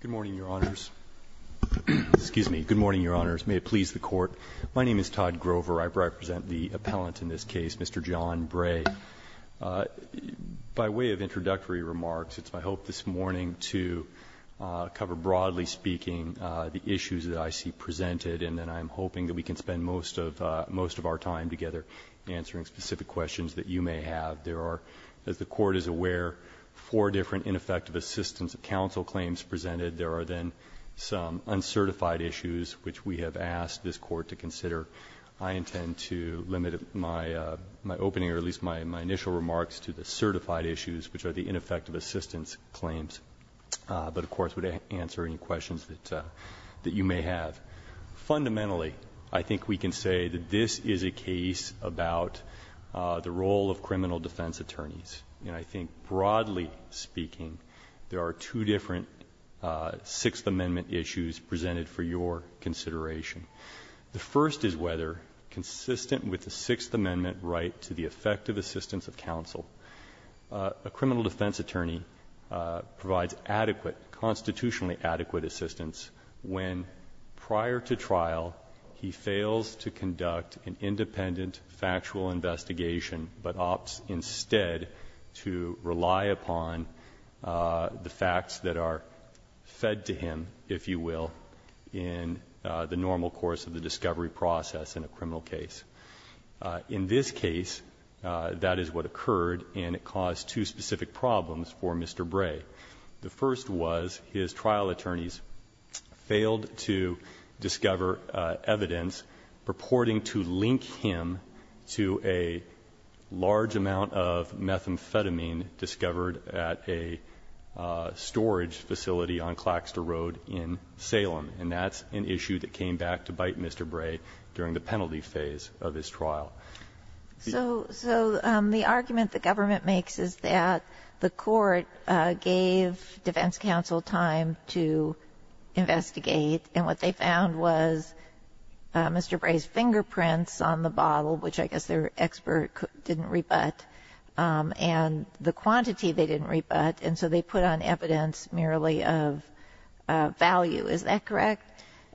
Good morning, Your Honors. May it please the Court, my name is Todd Grover, I represent the appellant in this case, Mr. John Bray. By way of introductory remarks, it's my hope this morning to cover broadly speaking the issues that I see presented and then I'm hoping that we can spend most of our time together answering specific questions that you may have. There are, as the Court is aware, four different ineffective assistance counsel claims presented. There are then some uncertified issues which we have asked this Court to consider. I intend to limit my opening, or at least my initial remarks, to the certified issues which are the ineffective assistance claims, but of course would answer any questions that you may have. Fundamentally, I think we can say that this is a case about the role of criminal defense attorneys. And I think broadly speaking, there are two different Sixth Amendment issues presented for your consideration. The first is whether, consistent with the Sixth Amendment right to the effective assistance of counsel, a criminal defense attorney provides adequate, constitutionally adequate assistance when, prior to trial, he fails to conduct an independent factual investigation, but opts instead to rely upon the facts that are fed to him, if you will, in the normal course of the discovery process in a criminal case. In this case, that is what occurred, and it caused two specific problems for Mr. Bray. The first was his trial attorneys failed to discover evidence purporting to link him to a large amount of methamphetamine discovered at a storage facility on Claxter Road in Salem, and that's an issue that came back to bite Mr. Bray during the penalty phase of his trial. So the argument the government makes is that the court gave defense counsel time to investigate, and what they found was Mr. Bray's fingerprints on the bottle, which I guess their expert didn't rebut, and the quantity they didn't rebut, and so they put on evidence merely of value. Is that correct?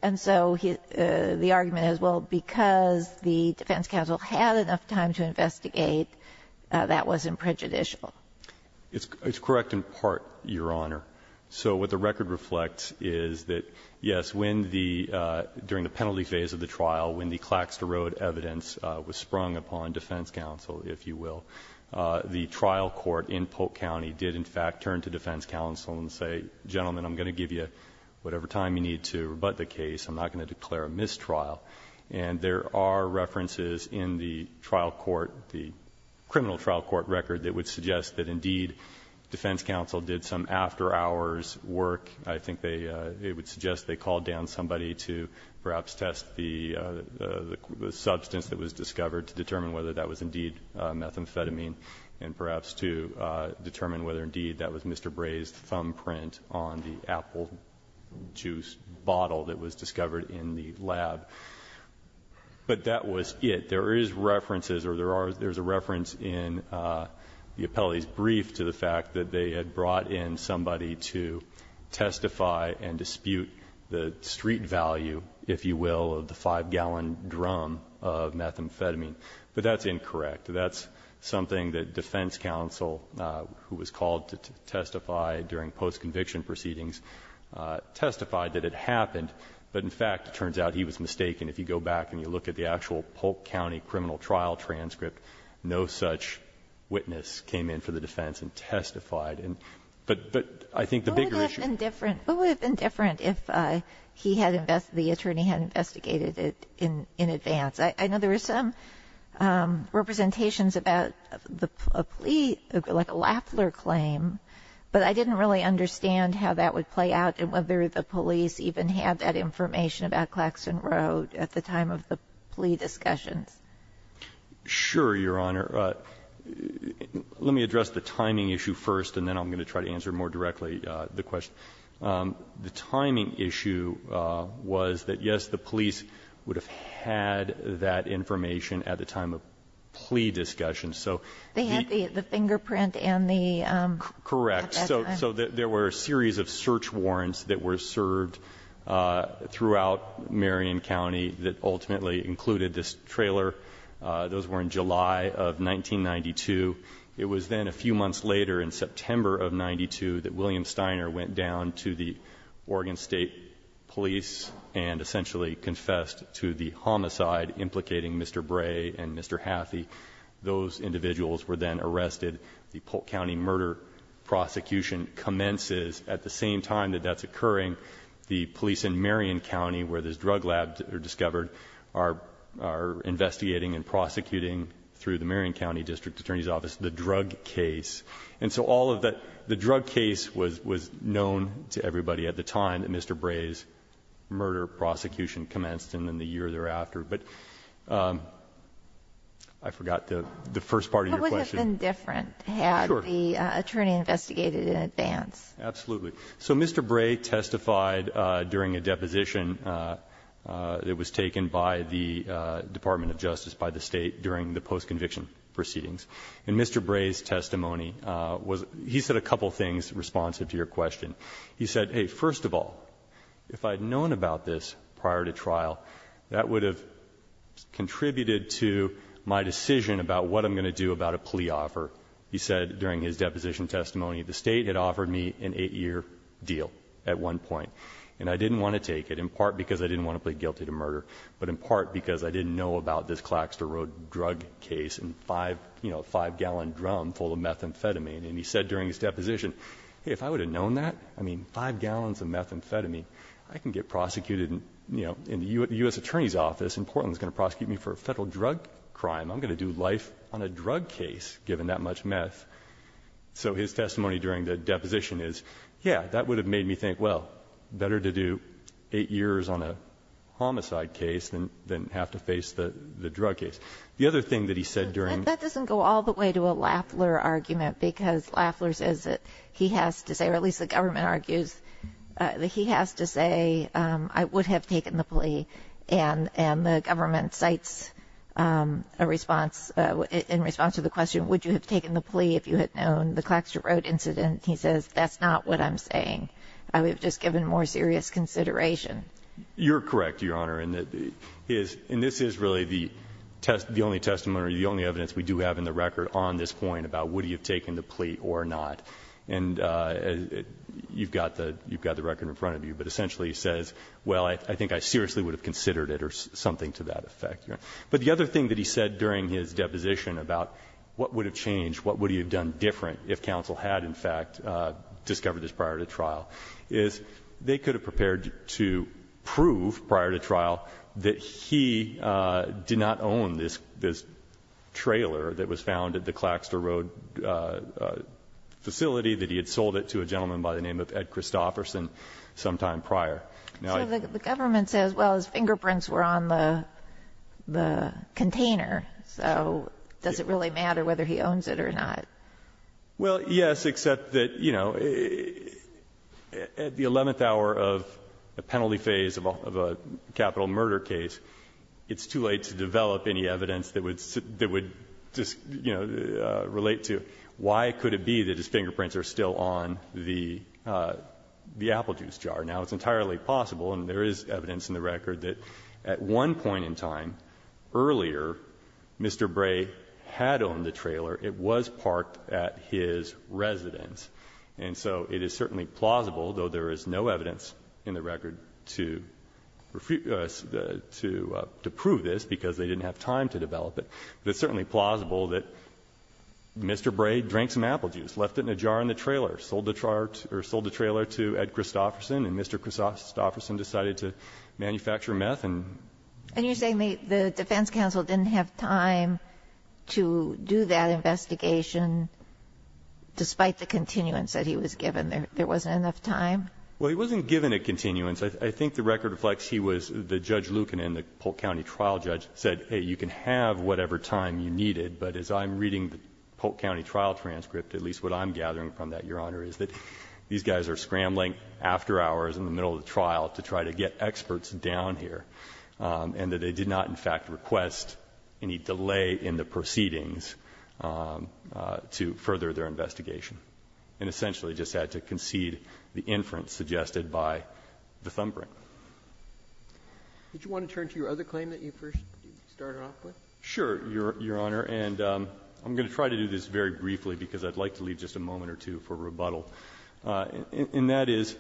And so the argument is, well, because the defense counsel had enough time to investigate, that wasn't prejudicial. It's correct in part, Your Honor. So what the record reflects is that, yes, when the – during the penalty phase of the trial, when the Claxter Road evidence was sprung upon defense counsel, if you will, the trial court in Polk County did, in fact, turn to defense counsel and say, gentlemen, I'm going to give you whatever time you need to rebut the case. I'm not going to declare a mistrial. And there are references in the trial court, the criminal trial court record, that would suggest that, indeed, defense counsel did some after-hours work. I think they would suggest they called down somebody to perhaps test the substance that was discovered to determine whether that was indeed methamphetamine, and perhaps to determine whether, indeed, that was Mr. Bray's thumbprint on the apple juice bottle that was discovered in the lab. But that was it. There is references, or there are – there's a reference in the appellee's brief to the fact that they had brought in somebody to testify and dispute the street value, if you will, of the 5-gallon drum of methamphetamine. But that's incorrect. That's something that defense counsel, who was called to testify during post-conviction proceedings, testified that it happened. But, in fact, it turns out he was mistaken. If you go back and you look at the actual Polk County criminal trial transcript, no such witness came in for the defense and testified. But I think the bigger issue – Kagan, who would have been different if he had invested – the attorney had investigated it in advance? I know there were some representations about the plea, like a Lafler claim, but I didn't really understand how that would play out and whether the police even had that information about Claxton Road at the time of the plea discussions. Sure, Your Honor. Let me address the timing issue first, and then I'm going to try to answer more directly the question. The timing issue was that, yes, the police would have had that information at the time of plea discussions. So the – They had the fingerprint and the – Correct. So there were a series of search warrants that were served throughout Marion County that ultimately included this trailer. Those were in July of 1992. It was then a few months later, in September of 1992, that William Steiner went down to the Oregon State Police and essentially confessed to the homicide implicating Mr. Bray and Mr. Hathi. Those individuals were then arrested. The Polk County murder prosecution commences at the same time that that's occurring. The police in Marion County, where this drug lab was discovered, are investigating and prosecuting through the Marion County District Attorney's Office the drug case. And so all of that – the drug case was known to everybody at the time that Mr. Bray's murder prosecution commenced and then the year thereafter. But I forgot the first part of your question. What would have been different had the attorney investigated it in advance? Absolutely. So Mr. Bray testified during a deposition that was taken by the Department of Justice by the State during the post-conviction proceedings. And Mr. Bray's testimony was – he said a couple things responsive to your question. He said, hey, first of all, if I had known about this prior to trial, that would have contributed to my decision about what I'm going to do about a plea offer. He said during his deposition testimony, the State had offered me an 8-year deal at one point. And I didn't want to take it, in part because I didn't want to plead guilty to murder, but in part because I didn't know about this Claxton Road drug case and five-gallon drum full of methamphetamine. And he said during his deposition, hey, if I would have known that, I mean, five gallons of methamphetamine, I can get prosecuted in the U.S. Attorney's Office and Portland's going to prosecute me for a federal drug crime. I'm going to do life on a drug case given that much meth. So his testimony during the deposition is, yeah, that would have made me think, well, better to do eight years on a homicide case than have to face the drug case. The other thing that he said during- That doesn't go all the way to a Lafler argument, because Lafler says that he has to say, or at least the government argues, that he has to say, I would have taken the plea. And the government cites a response, in response to the question, would you have taken the plea if you had known the Claxton Road incident? He says, that's not what I'm saying. I would have just given more serious consideration. You're correct, Your Honor. And this is really the only testimony or the only evidence we do have in the record on this point about would he have taken the plea or not. And you've got the record in front of you. But essentially he says, well, I think I seriously would have considered it or something to that effect. But the other thing that he said during his deposition about what would have changed, what would he have done different if counsel had, in fact, discovered this prior to trial, is they could have prepared to prove, prior to trial, that he did not own this trailer that was found at the Claxton Road facility, that he had sold it to a gentleman by the name of Ed Christofferson sometime prior. Now, I So the government says, well, his fingerprints were on the container. So does it really matter whether he owns it or not? Well, yes, except that, you know, at the 11th hour of the penalty phase of a capital murder case, it's too late to develop any evidence that would just, you know, relate to why could it be that his fingerprints are still on the apple juice jar. Now, it's entirely possible, and there is evidence in the record, that at one point in time, earlier, Mr. Bray had owned the trailer. It was parked at his residence. And so it is certainly plausible, though there is no evidence in the record to refuse to prove this because they didn't have time to develop it, but it's certainly plausible that Mr. Bray drank some apple juice, left it in a jar in the trailer, sold the trailer to Ed Christofferson, and Mr. Christofferson decided to manufacture meth and used the same method to make a mistake. When you're saying the defense counsel didn't have time to do that investigation despite the continuance that he was given, there wasn't enough time? Well, he wasn't given a continuance. I think the record reflects he was the Judge Lucan in the Polk County trial judge said, hey, you can have whatever time you needed, but as I'm reading the Polk County trial transcript, at least what I'm gathering from that, Your Honor, is that these guys are scrambling after hours in the middle of the trial to try to get experts down here, and that they did not, in fact, request any delay in the proceedings to further their investigation, and essentially just had to concede the inference suggested by the thumbprint. Did you want to turn to your other claim that you first started off with? Sure, Your Honor. And I'm going to try to do this very briefly because I'd like to leave just a moment or two for rebuttal. And that is,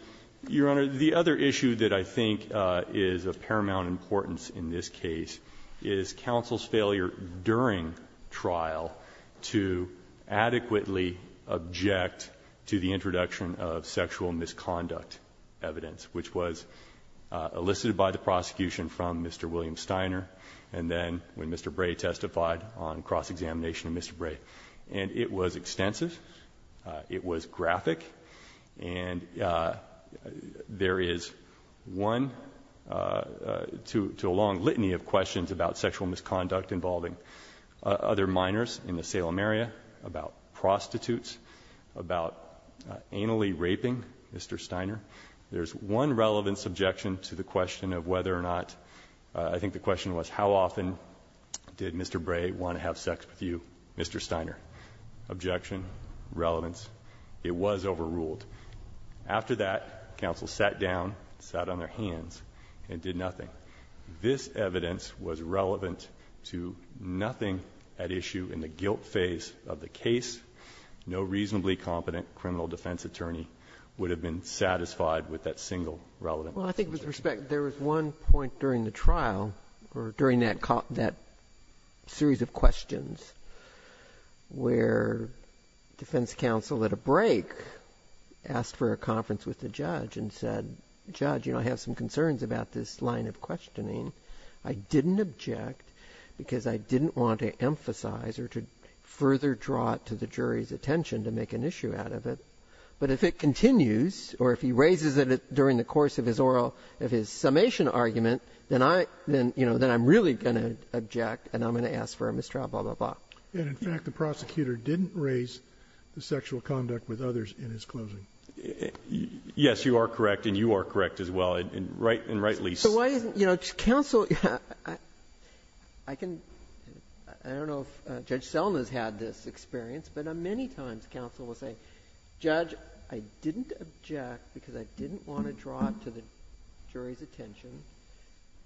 Your Honor, the other issue that I think is of paramount importance in this case is counsel's failure during trial to adequately object to the introduction of sexual misconduct evidence, which was elicited by the prosecution from Mr. William Steiner, and then when Mr. Bray testified on cross-examination of Mr. Bray. And it was extensive. It was graphic. And there is one to a long litany of questions about sexual misconduct involving other minors in the Salem area, about prostitutes, about anally raping Mr. Steiner. There's one relevant subjection to the question of whether or not, I think the question was, how often did Mr. Bray want to have sex with you, Mr. Steiner? Objection, relevance. It was overruled. After that, counsel sat down, sat on their hands, and did nothing. This evidence was relevant to nothing at issue in the guilt phase of the case. No reasonably competent criminal defense attorney would have been satisfied with that single relevant subjection. Well, I think with respect, there was one point during the trial, or during that series of questions, where defense counsel at a break asked for a conference with the judge and said, judge, you know, I have some concerns about this line of questioning. I didn't object because I didn't want to emphasize or to further draw it to the jury's attention to make an issue out of it. But if it continues, or if he raises it during the course of his oral, of his summation argument, then I'm really going to object, and I'm going to ask for a mistrial, blah, blah, blah. And in fact, the prosecutor didn't raise the sexual conduct with others in his closing. Yes, you are correct, and you are correct as well, in right and right lease. So why isn't, counsel, I don't know if Judge Selma's had this experience, but many times counsel will say, judge, I didn't object because I didn't want to draw it to the jury's attention,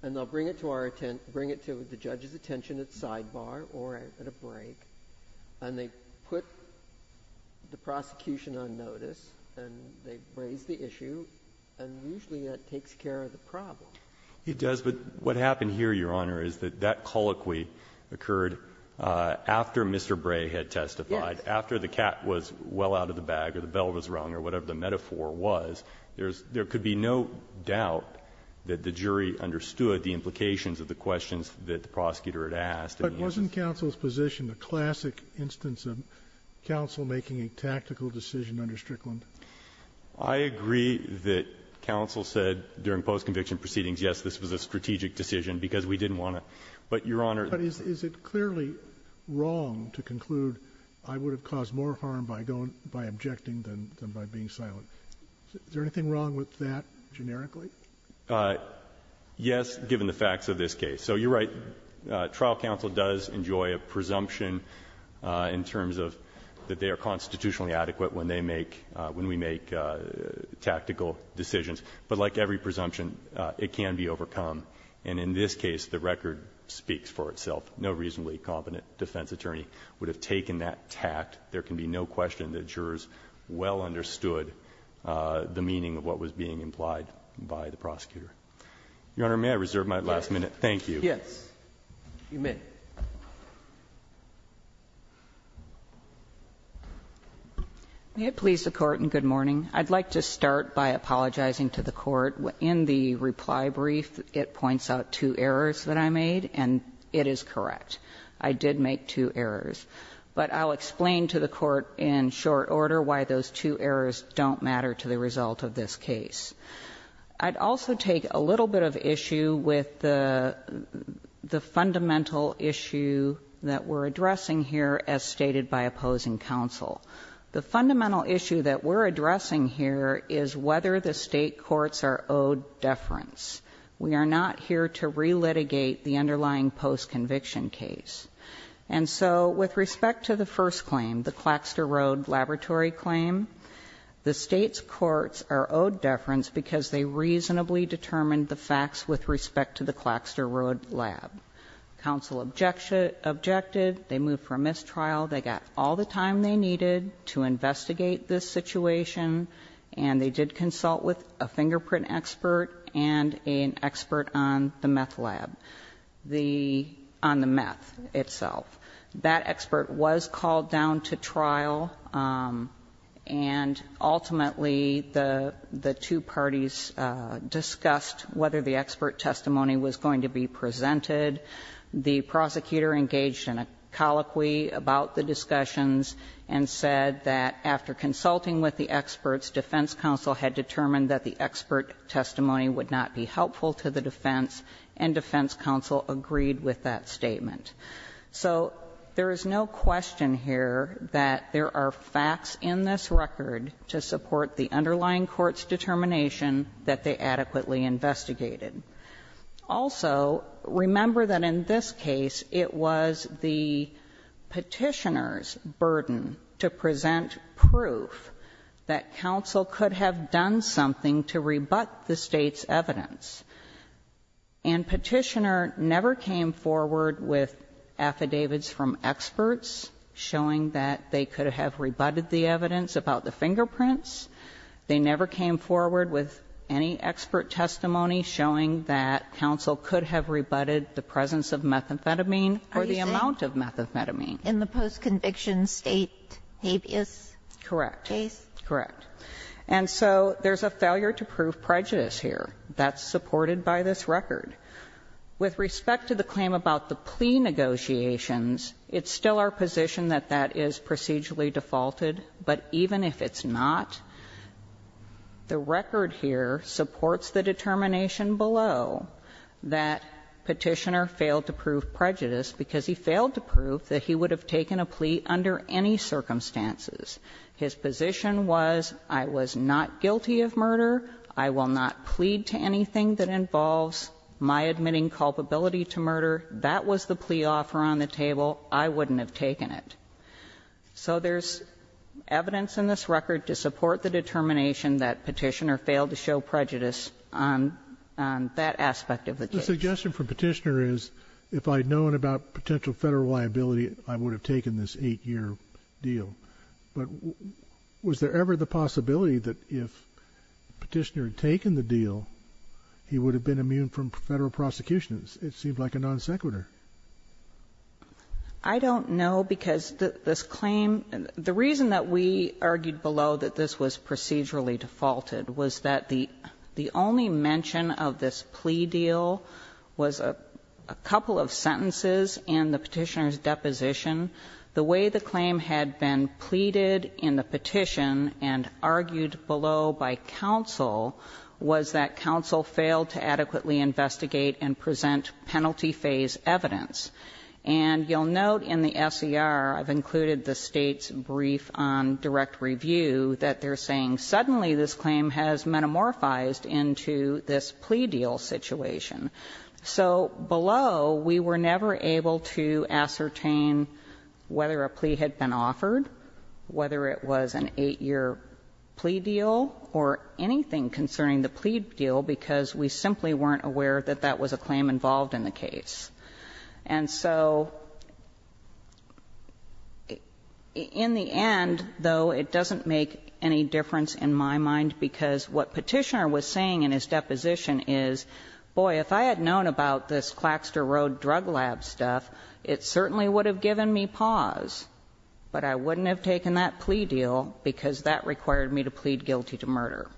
and they'll bring it to the judge's attention at sidebar or at a break. And they put the prosecution on notice, and they raise the issue, and usually that takes care of the problem. It does, but what happened here, Your Honor, is that that colloquy occurred after Mr. Bray had testified. After the cat was well out of the bag, or the bell was rung, or whatever the metaphor was, there's, there could be no doubt that the jury understood the implications of the questions that the prosecutor had asked. But wasn't counsel's position a classic instance of counsel making a tactical decision under Strickland? I agree that counsel said during post-conviction proceedings, yes, this was a strategic decision, because we didn't want to. But, Your Honor- But is it clearly wrong to conclude, I would have caused more harm by going, by objecting than by being silent? Is there anything wrong with that, generically? Yes, given the facts of this case. So you're right, trial counsel does enjoy a presumption in terms of that they are constitutionally adequate when they make, when we make tactical decisions, but like every presumption, it can be overcome. And in this case, the record speaks for itself. No reasonably competent defense attorney would have taken that tact. There can be no question that jurors well understood the meaning of what was being implied by the prosecutor. Your Honor, may I reserve my last minute? Thank you. Yes. You may. May it please the Court and good morning. I'd like to start by apologizing to the Court. In the reply brief, it points out two errors that I made, and it is correct. I did make two errors. But I'll explain to the Court in short order why those two errors don't matter to the result of this case. I'd also take a little bit of issue with the fundamental issue that we're addressing here as stated by opposing counsel. The fundamental issue that we're addressing here is whether the state courts are owed deference. We are not here to re-litigate the underlying post-conviction case. And so, with respect to the first claim, the Claxter Road Laboratory claim, the state's courts are owed deference because they reasonably determined the facts with respect to the Claxter Road lab. Counsel objected, they moved for a mistrial, they got all the time they needed to investigate this situation. And they did consult with a fingerprint expert and an expert on the meth lab, on the meth itself. That expert was called down to trial and ultimately the two parties discussed whether the expert testified, the prosecutor engaged in a colloquy about the discussions. And said that after consulting with the experts, defense counsel had determined that the expert testimony would not be helpful to the defense. And defense counsel agreed with that statement. So, there is no question here that there are facts in this record to support the underlying court's determination that they adequately investigated. Also, remember that in this case, it was the Petitioner's burden to present proof that counsel could have done something to rebut the state's evidence. And Petitioner never came forward with affidavits from experts, showing that they could have rebutted the evidence about the fingerprints. They never came forward with any expert testimony showing that counsel could have rebutted the presence of methamphetamine or the amount of methamphetamine. In the post-conviction state habeas case? Correct. Correct. And so there's a failure to prove prejudice here. That's supported by this record. With respect to the claim about the plea negotiations, it's still our position that that is procedurally defaulted. But even if it's not, the record here supports the determination below that Petitioner failed to prove prejudice because he failed to prove that he would have taken a plea under any circumstances. His position was, I was not guilty of murder. I will not plead to anything that involves my admitting culpability to murder. That was the plea offer on the table. I wouldn't have taken it. So there's evidence in this record to support the determination that Petitioner failed to show prejudice on that aspect of the case. The suggestion from Petitioner is, if I'd known about potential Federal liability, I would have taken this 8-year deal. But was there ever the possibility that if Petitioner had taken the deal, he would have been immune from Federal prosecution? It seemed like a non sequitur. I don't know, because this claim, the reason that we argued below that this was procedurally defaulted was that the only mention of this plea deal was a couple of sentences in the Petitioner's deposition. The way the claim had been pleaded in the petition and argued below by counsel was that counsel failed to adequately investigate and present penalty phase evidence And you'll note in the SCR, I've included the State's brief on direct review, that they're saying suddenly this claim has metamorphosed into this plea deal situation. So below, we were never able to ascertain whether a plea had been offered, whether it was an 8-year plea deal, or anything concerning the plea deal, because we simply weren't aware that that was a claim involved in the case. And so in the end, though, it doesn't make any difference in my mind, because what Petitioner was saying in his deposition is, boy, if I had known about this Claxter Road Drug Lab stuff, it certainly would have given me pause, but I wouldn't have taken that plea deal because that required me to plead guilty to murder.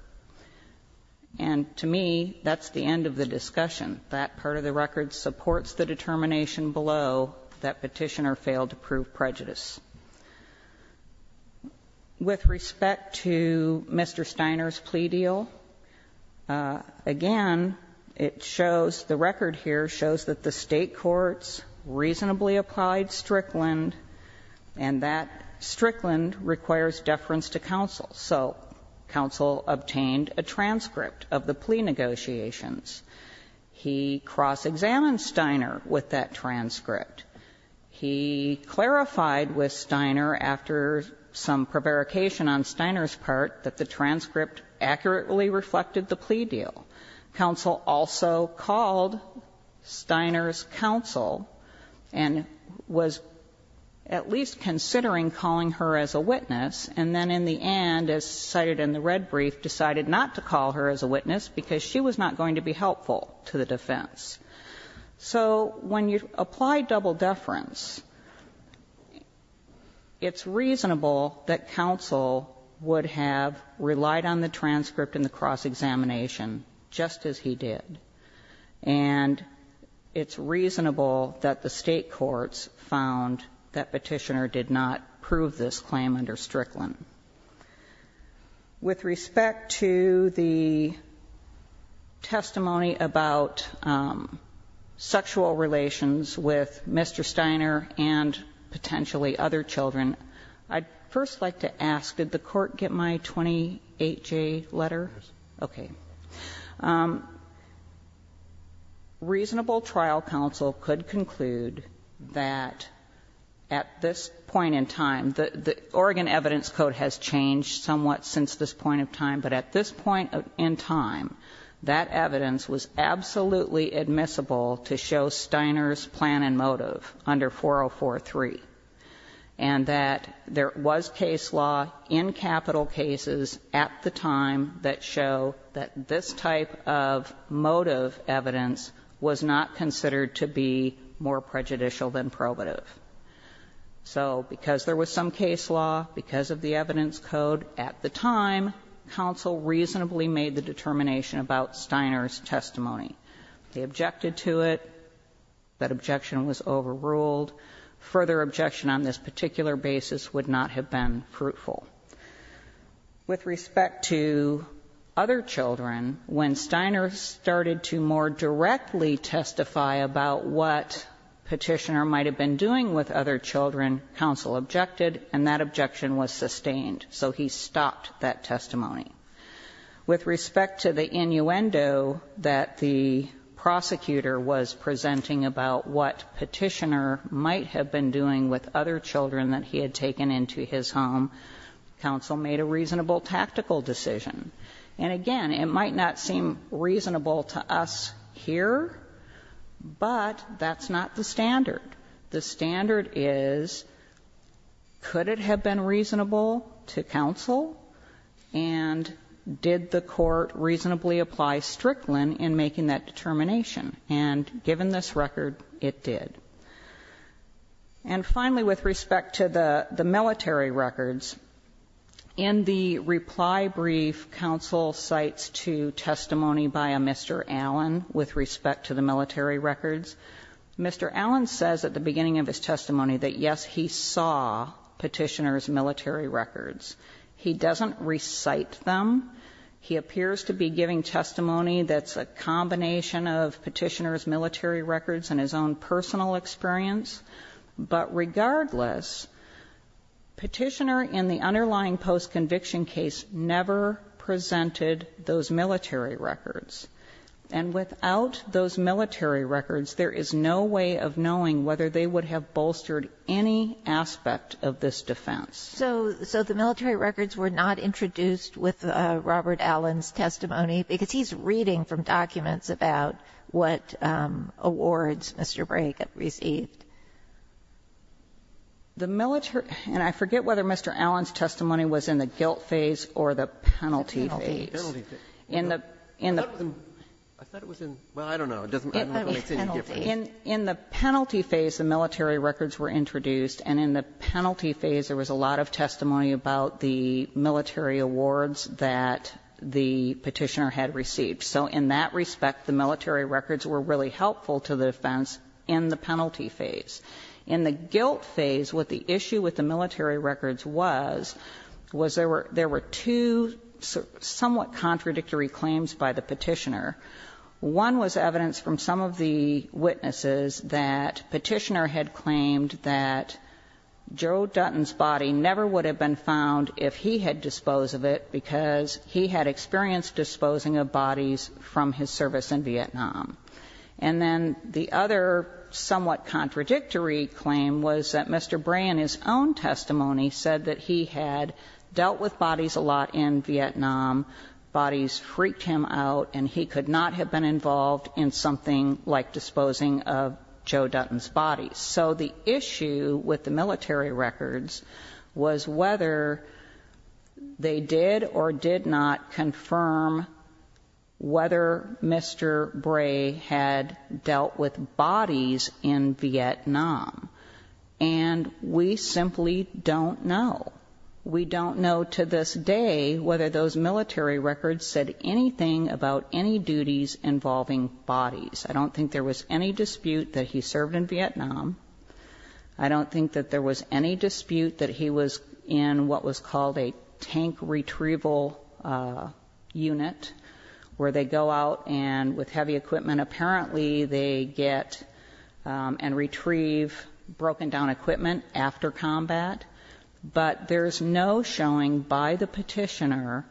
And to me, that's the end of the discussion. That part of the record supports the determination below that Petitioner failed to prove prejudice. With respect to Mr. Steiner's plea deal, again, it shows, the record here shows that the State courts reasonably applied Strickland, and that Strickland requires deference to counsel. So counsel obtained a transcript of the plea negotiations. He cross-examined Steiner with that transcript. He clarified with Steiner, after some prevarication on Steiner's part, that the transcript accurately reflected the plea deal. Counsel also called Steiner's counsel and was at least considering calling her as a witness and then in the end, as cited in the red brief, decided not to call her as a witness because she was not going to be helpful to the defense. So when you apply double deference, it's reasonable that counsel would have relied on the transcript and the cross-examination just as he did. And it's reasonable that the State courts found that Petitioner did not prove this claim under Strickland. With respect to the testimony about sexual relations with Mr. Steiner and potentially other children, I'd first like to ask, did the Court get my 28-J letter? Okay. Reasonable trial counsel could conclude that at this point in time, the 28-J letter the Oregon Evidence Code has changed somewhat since this point in time, but at this point in time, that evidence was absolutely admissible to show Steiner's plan and motive under 4043, and that there was case law in capital cases at the time that show that this type of motive evidence was not considered to be more prejudicial than probative. So because there was some case law, because of the evidence code at the time, counsel reasonably made the determination about Steiner's testimony. They objected to it. That objection was overruled. Further objection on this particular basis would not have been fruitful. With respect to other children, when Steiner started to more directly testify about what Petitioner might have been doing with other children, counsel objected, and that objection was sustained, so he stopped that testimony. With respect to the innuendo that the prosecutor was presenting about what Petitioner might have been doing with other children that he had taken into his home, counsel made a reasonable tactical decision. And again, it might not seem reasonable to us here, but that's not the standard. The standard is, could it have been reasonable to counsel, and did the court reasonably apply Strickland in making that determination? And given this record, it did. And finally, with respect to the military records, in the reply brief, counsel cites to testimony by a Mr. Allen with respect to the military records. Mr. Allen says at the beginning of his testimony that, yes, he saw Petitioner's military records. He doesn't recite them. He appears to be giving testimony that's a combination of Petitioner's military records and his own personal experience. But regardless, Petitioner in the underlying post-conviction case never presented those military records. And without those military records, there is no way of knowing whether they would have bolstered any aspect of this defense. So the military records were not introduced with Robert Allen's testimony, because he's reading from documents about what awards Mr. Bray had received. The military records, and I forget whether Mr. Allen's testimony was in the guilt phase or the penalty phase. In the penalty phase, the military records were introduced, and in the penalty phase there was a lot of testimony about the military awards that the Petitioner had received. So in that respect, the military records were really helpful to the defense in the penalty phase. In the guilt phase, what the issue with the military records was, was there were two somewhat contradictory claims by the Petitioner. One was evidence from some of the witnesses that Petitioner had claimed that Joe Dutton's body never would have been found if he had disposed of it, because he had experienced And then the other somewhat contradictory claim was that Mr. Bray in his own testimony said that he had dealt with bodies a lot in Vietnam, bodies freaked him out, and he could not have been involved in something like disposing of Joe Dutton's body. So the issue with the military records was whether they did or did not confirm whether Mr. Bray had dealt with bodies in Vietnam. And we simply don't know. We don't know to this day whether those military records said anything about any duties involving bodies. I don't think there was any dispute that he served in Vietnam. I don't think that there was any dispute that he was in what was called a tank retrieval unit, where they go out and, with heavy equipment, apparently they get and retrieve broken-down equipment after combat. But there's no showing by the Petitioner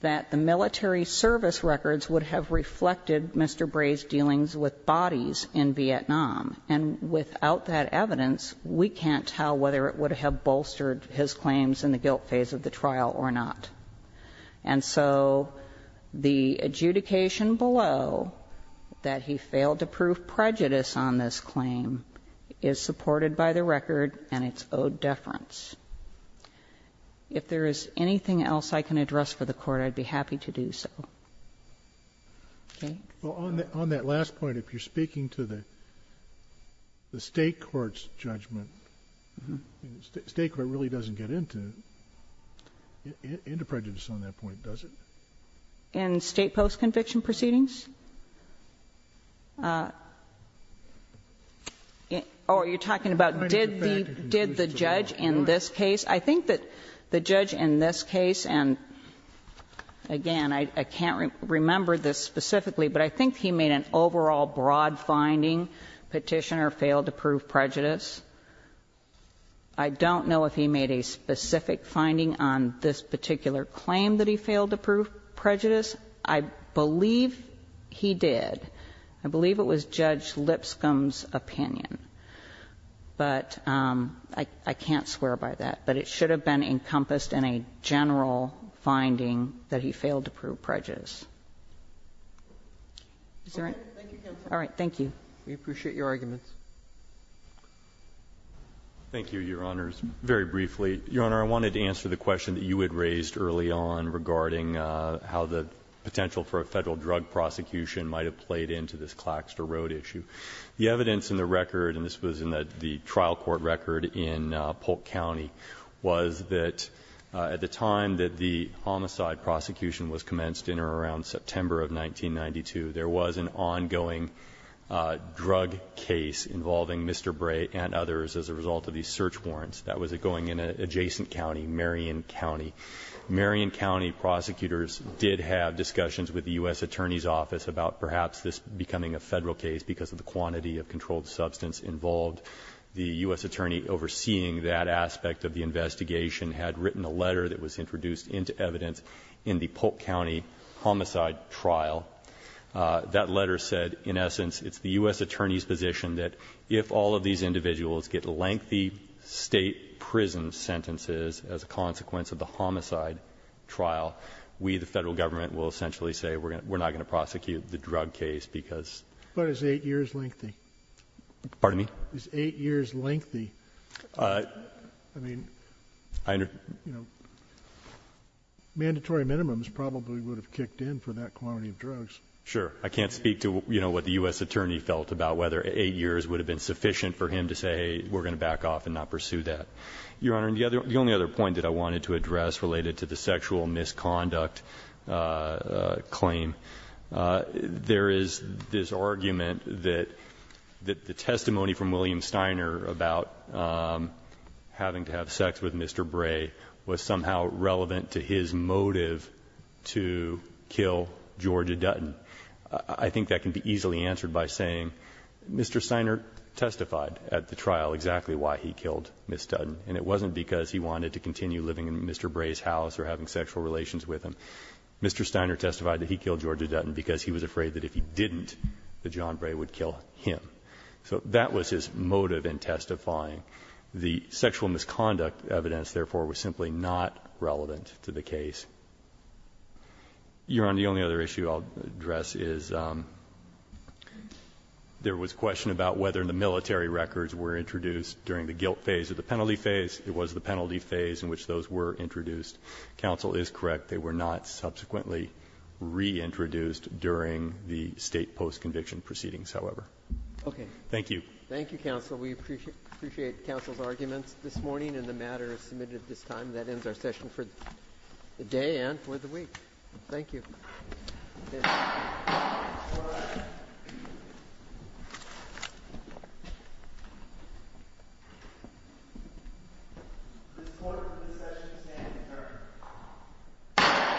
that the military service records would have reflected Mr. Bray's dealings with bodies in Vietnam. And without that evidence, we can't tell whether it would have bolstered his claims in the guilt phase of the trial or not. And so the adjudication below that he failed to prove prejudice on this claim is supported by the record and it's owed deference. If there is anything else I can address for the Court, I'd be happy to do so. Okay? Scalia. On that last point, if you're speaking to the State court's judgment, the State court really doesn't get into prejudice on that point, does it? In State post-conviction proceedings? Or are you talking about did the judge in this case? I think that the judge in this case, and again, I can't remember this specifically, but I think he made an overall broad finding, Petitioner failed to prove prejudice. I don't know if he made a specific finding on this particular claim that he failed to prove prejudice. I believe he did. I believe it was Judge Lipscomb's opinion. But I can't swear by that. But it should have been encompassed in a general finding that he failed to prove prejudice. Is that right? All right. Thank you. We appreciate your arguments. Thank you, Your Honors. Very briefly, Your Honor, I wanted to answer the question that you had raised early on regarding how the potential for a Federal drug prosecution might have played into this Claxter Road issue. The evidence in the record, and this was in the trial court record in Polk County, was that at the time that the homicide prosecution was commenced in or around September of 1992, there was an ongoing drug case involving Mr. Bray and others as a result of these search warrants. That was going in an adjacent county, Marion County. Marion County prosecutors did have discussions with the U.S. Attorney's Office about perhaps this becoming a Federal case because of the quantity of controlled substance involved. The U.S. Attorney overseeing that aspect of the investigation had written a letter that was introduced into evidence in the Polk County homicide trial. That letter said, in essence, it's the U.S. Attorney's position that if all of these individuals get lengthy state prison sentences as a consequence of the homicide trial, we, the Federal Government, will essentially say we're not going to prosecute the drug case because ---- But it's eight years lengthy. Pardon me? It's eight years lengthy. I mean, mandatory minimums probably would have kicked in for that quantity of drugs. Sure. I can't speak to what the U.S. Attorney felt about whether eight years would have been sufficient for him to say, hey, we're going to back off and not pursue that. Your Honor, the only other point that I wanted to address related to the sexual misconduct claim, there is this argument that the testimony from William Steiner about having to have sex with Mr. Bray was somehow relevant to his motive to kill Georgia Dutton. I think that can be easily answered by saying Mr. Steiner testified at the trial exactly why he killed Ms. Dutton, and it wasn't because he wanted to continue living in Mr. Bray's house or having sexual relations with him. Mr. Steiner testified that he killed Georgia Dutton because he was afraid that if he didn't, that John Bray would kill him. So that was his motive in testifying. The sexual misconduct evidence, therefore, was simply not relevant to the case. Your Honor, the only other issue I'll address is there was question about whether the military records were introduced during the guilt phase or the penalty phase. It was the penalty phase in which those were introduced. Counsel is correct. They were not subsequently reintroduced during the State postconviction proceedings, however. Okay. Thank you. Thank you, counsel. We appreciate counsel's arguments this morning and the matter is submitted at this time. That ends our session for the day and for the week. Thank you. This court for this session is standing adjourned.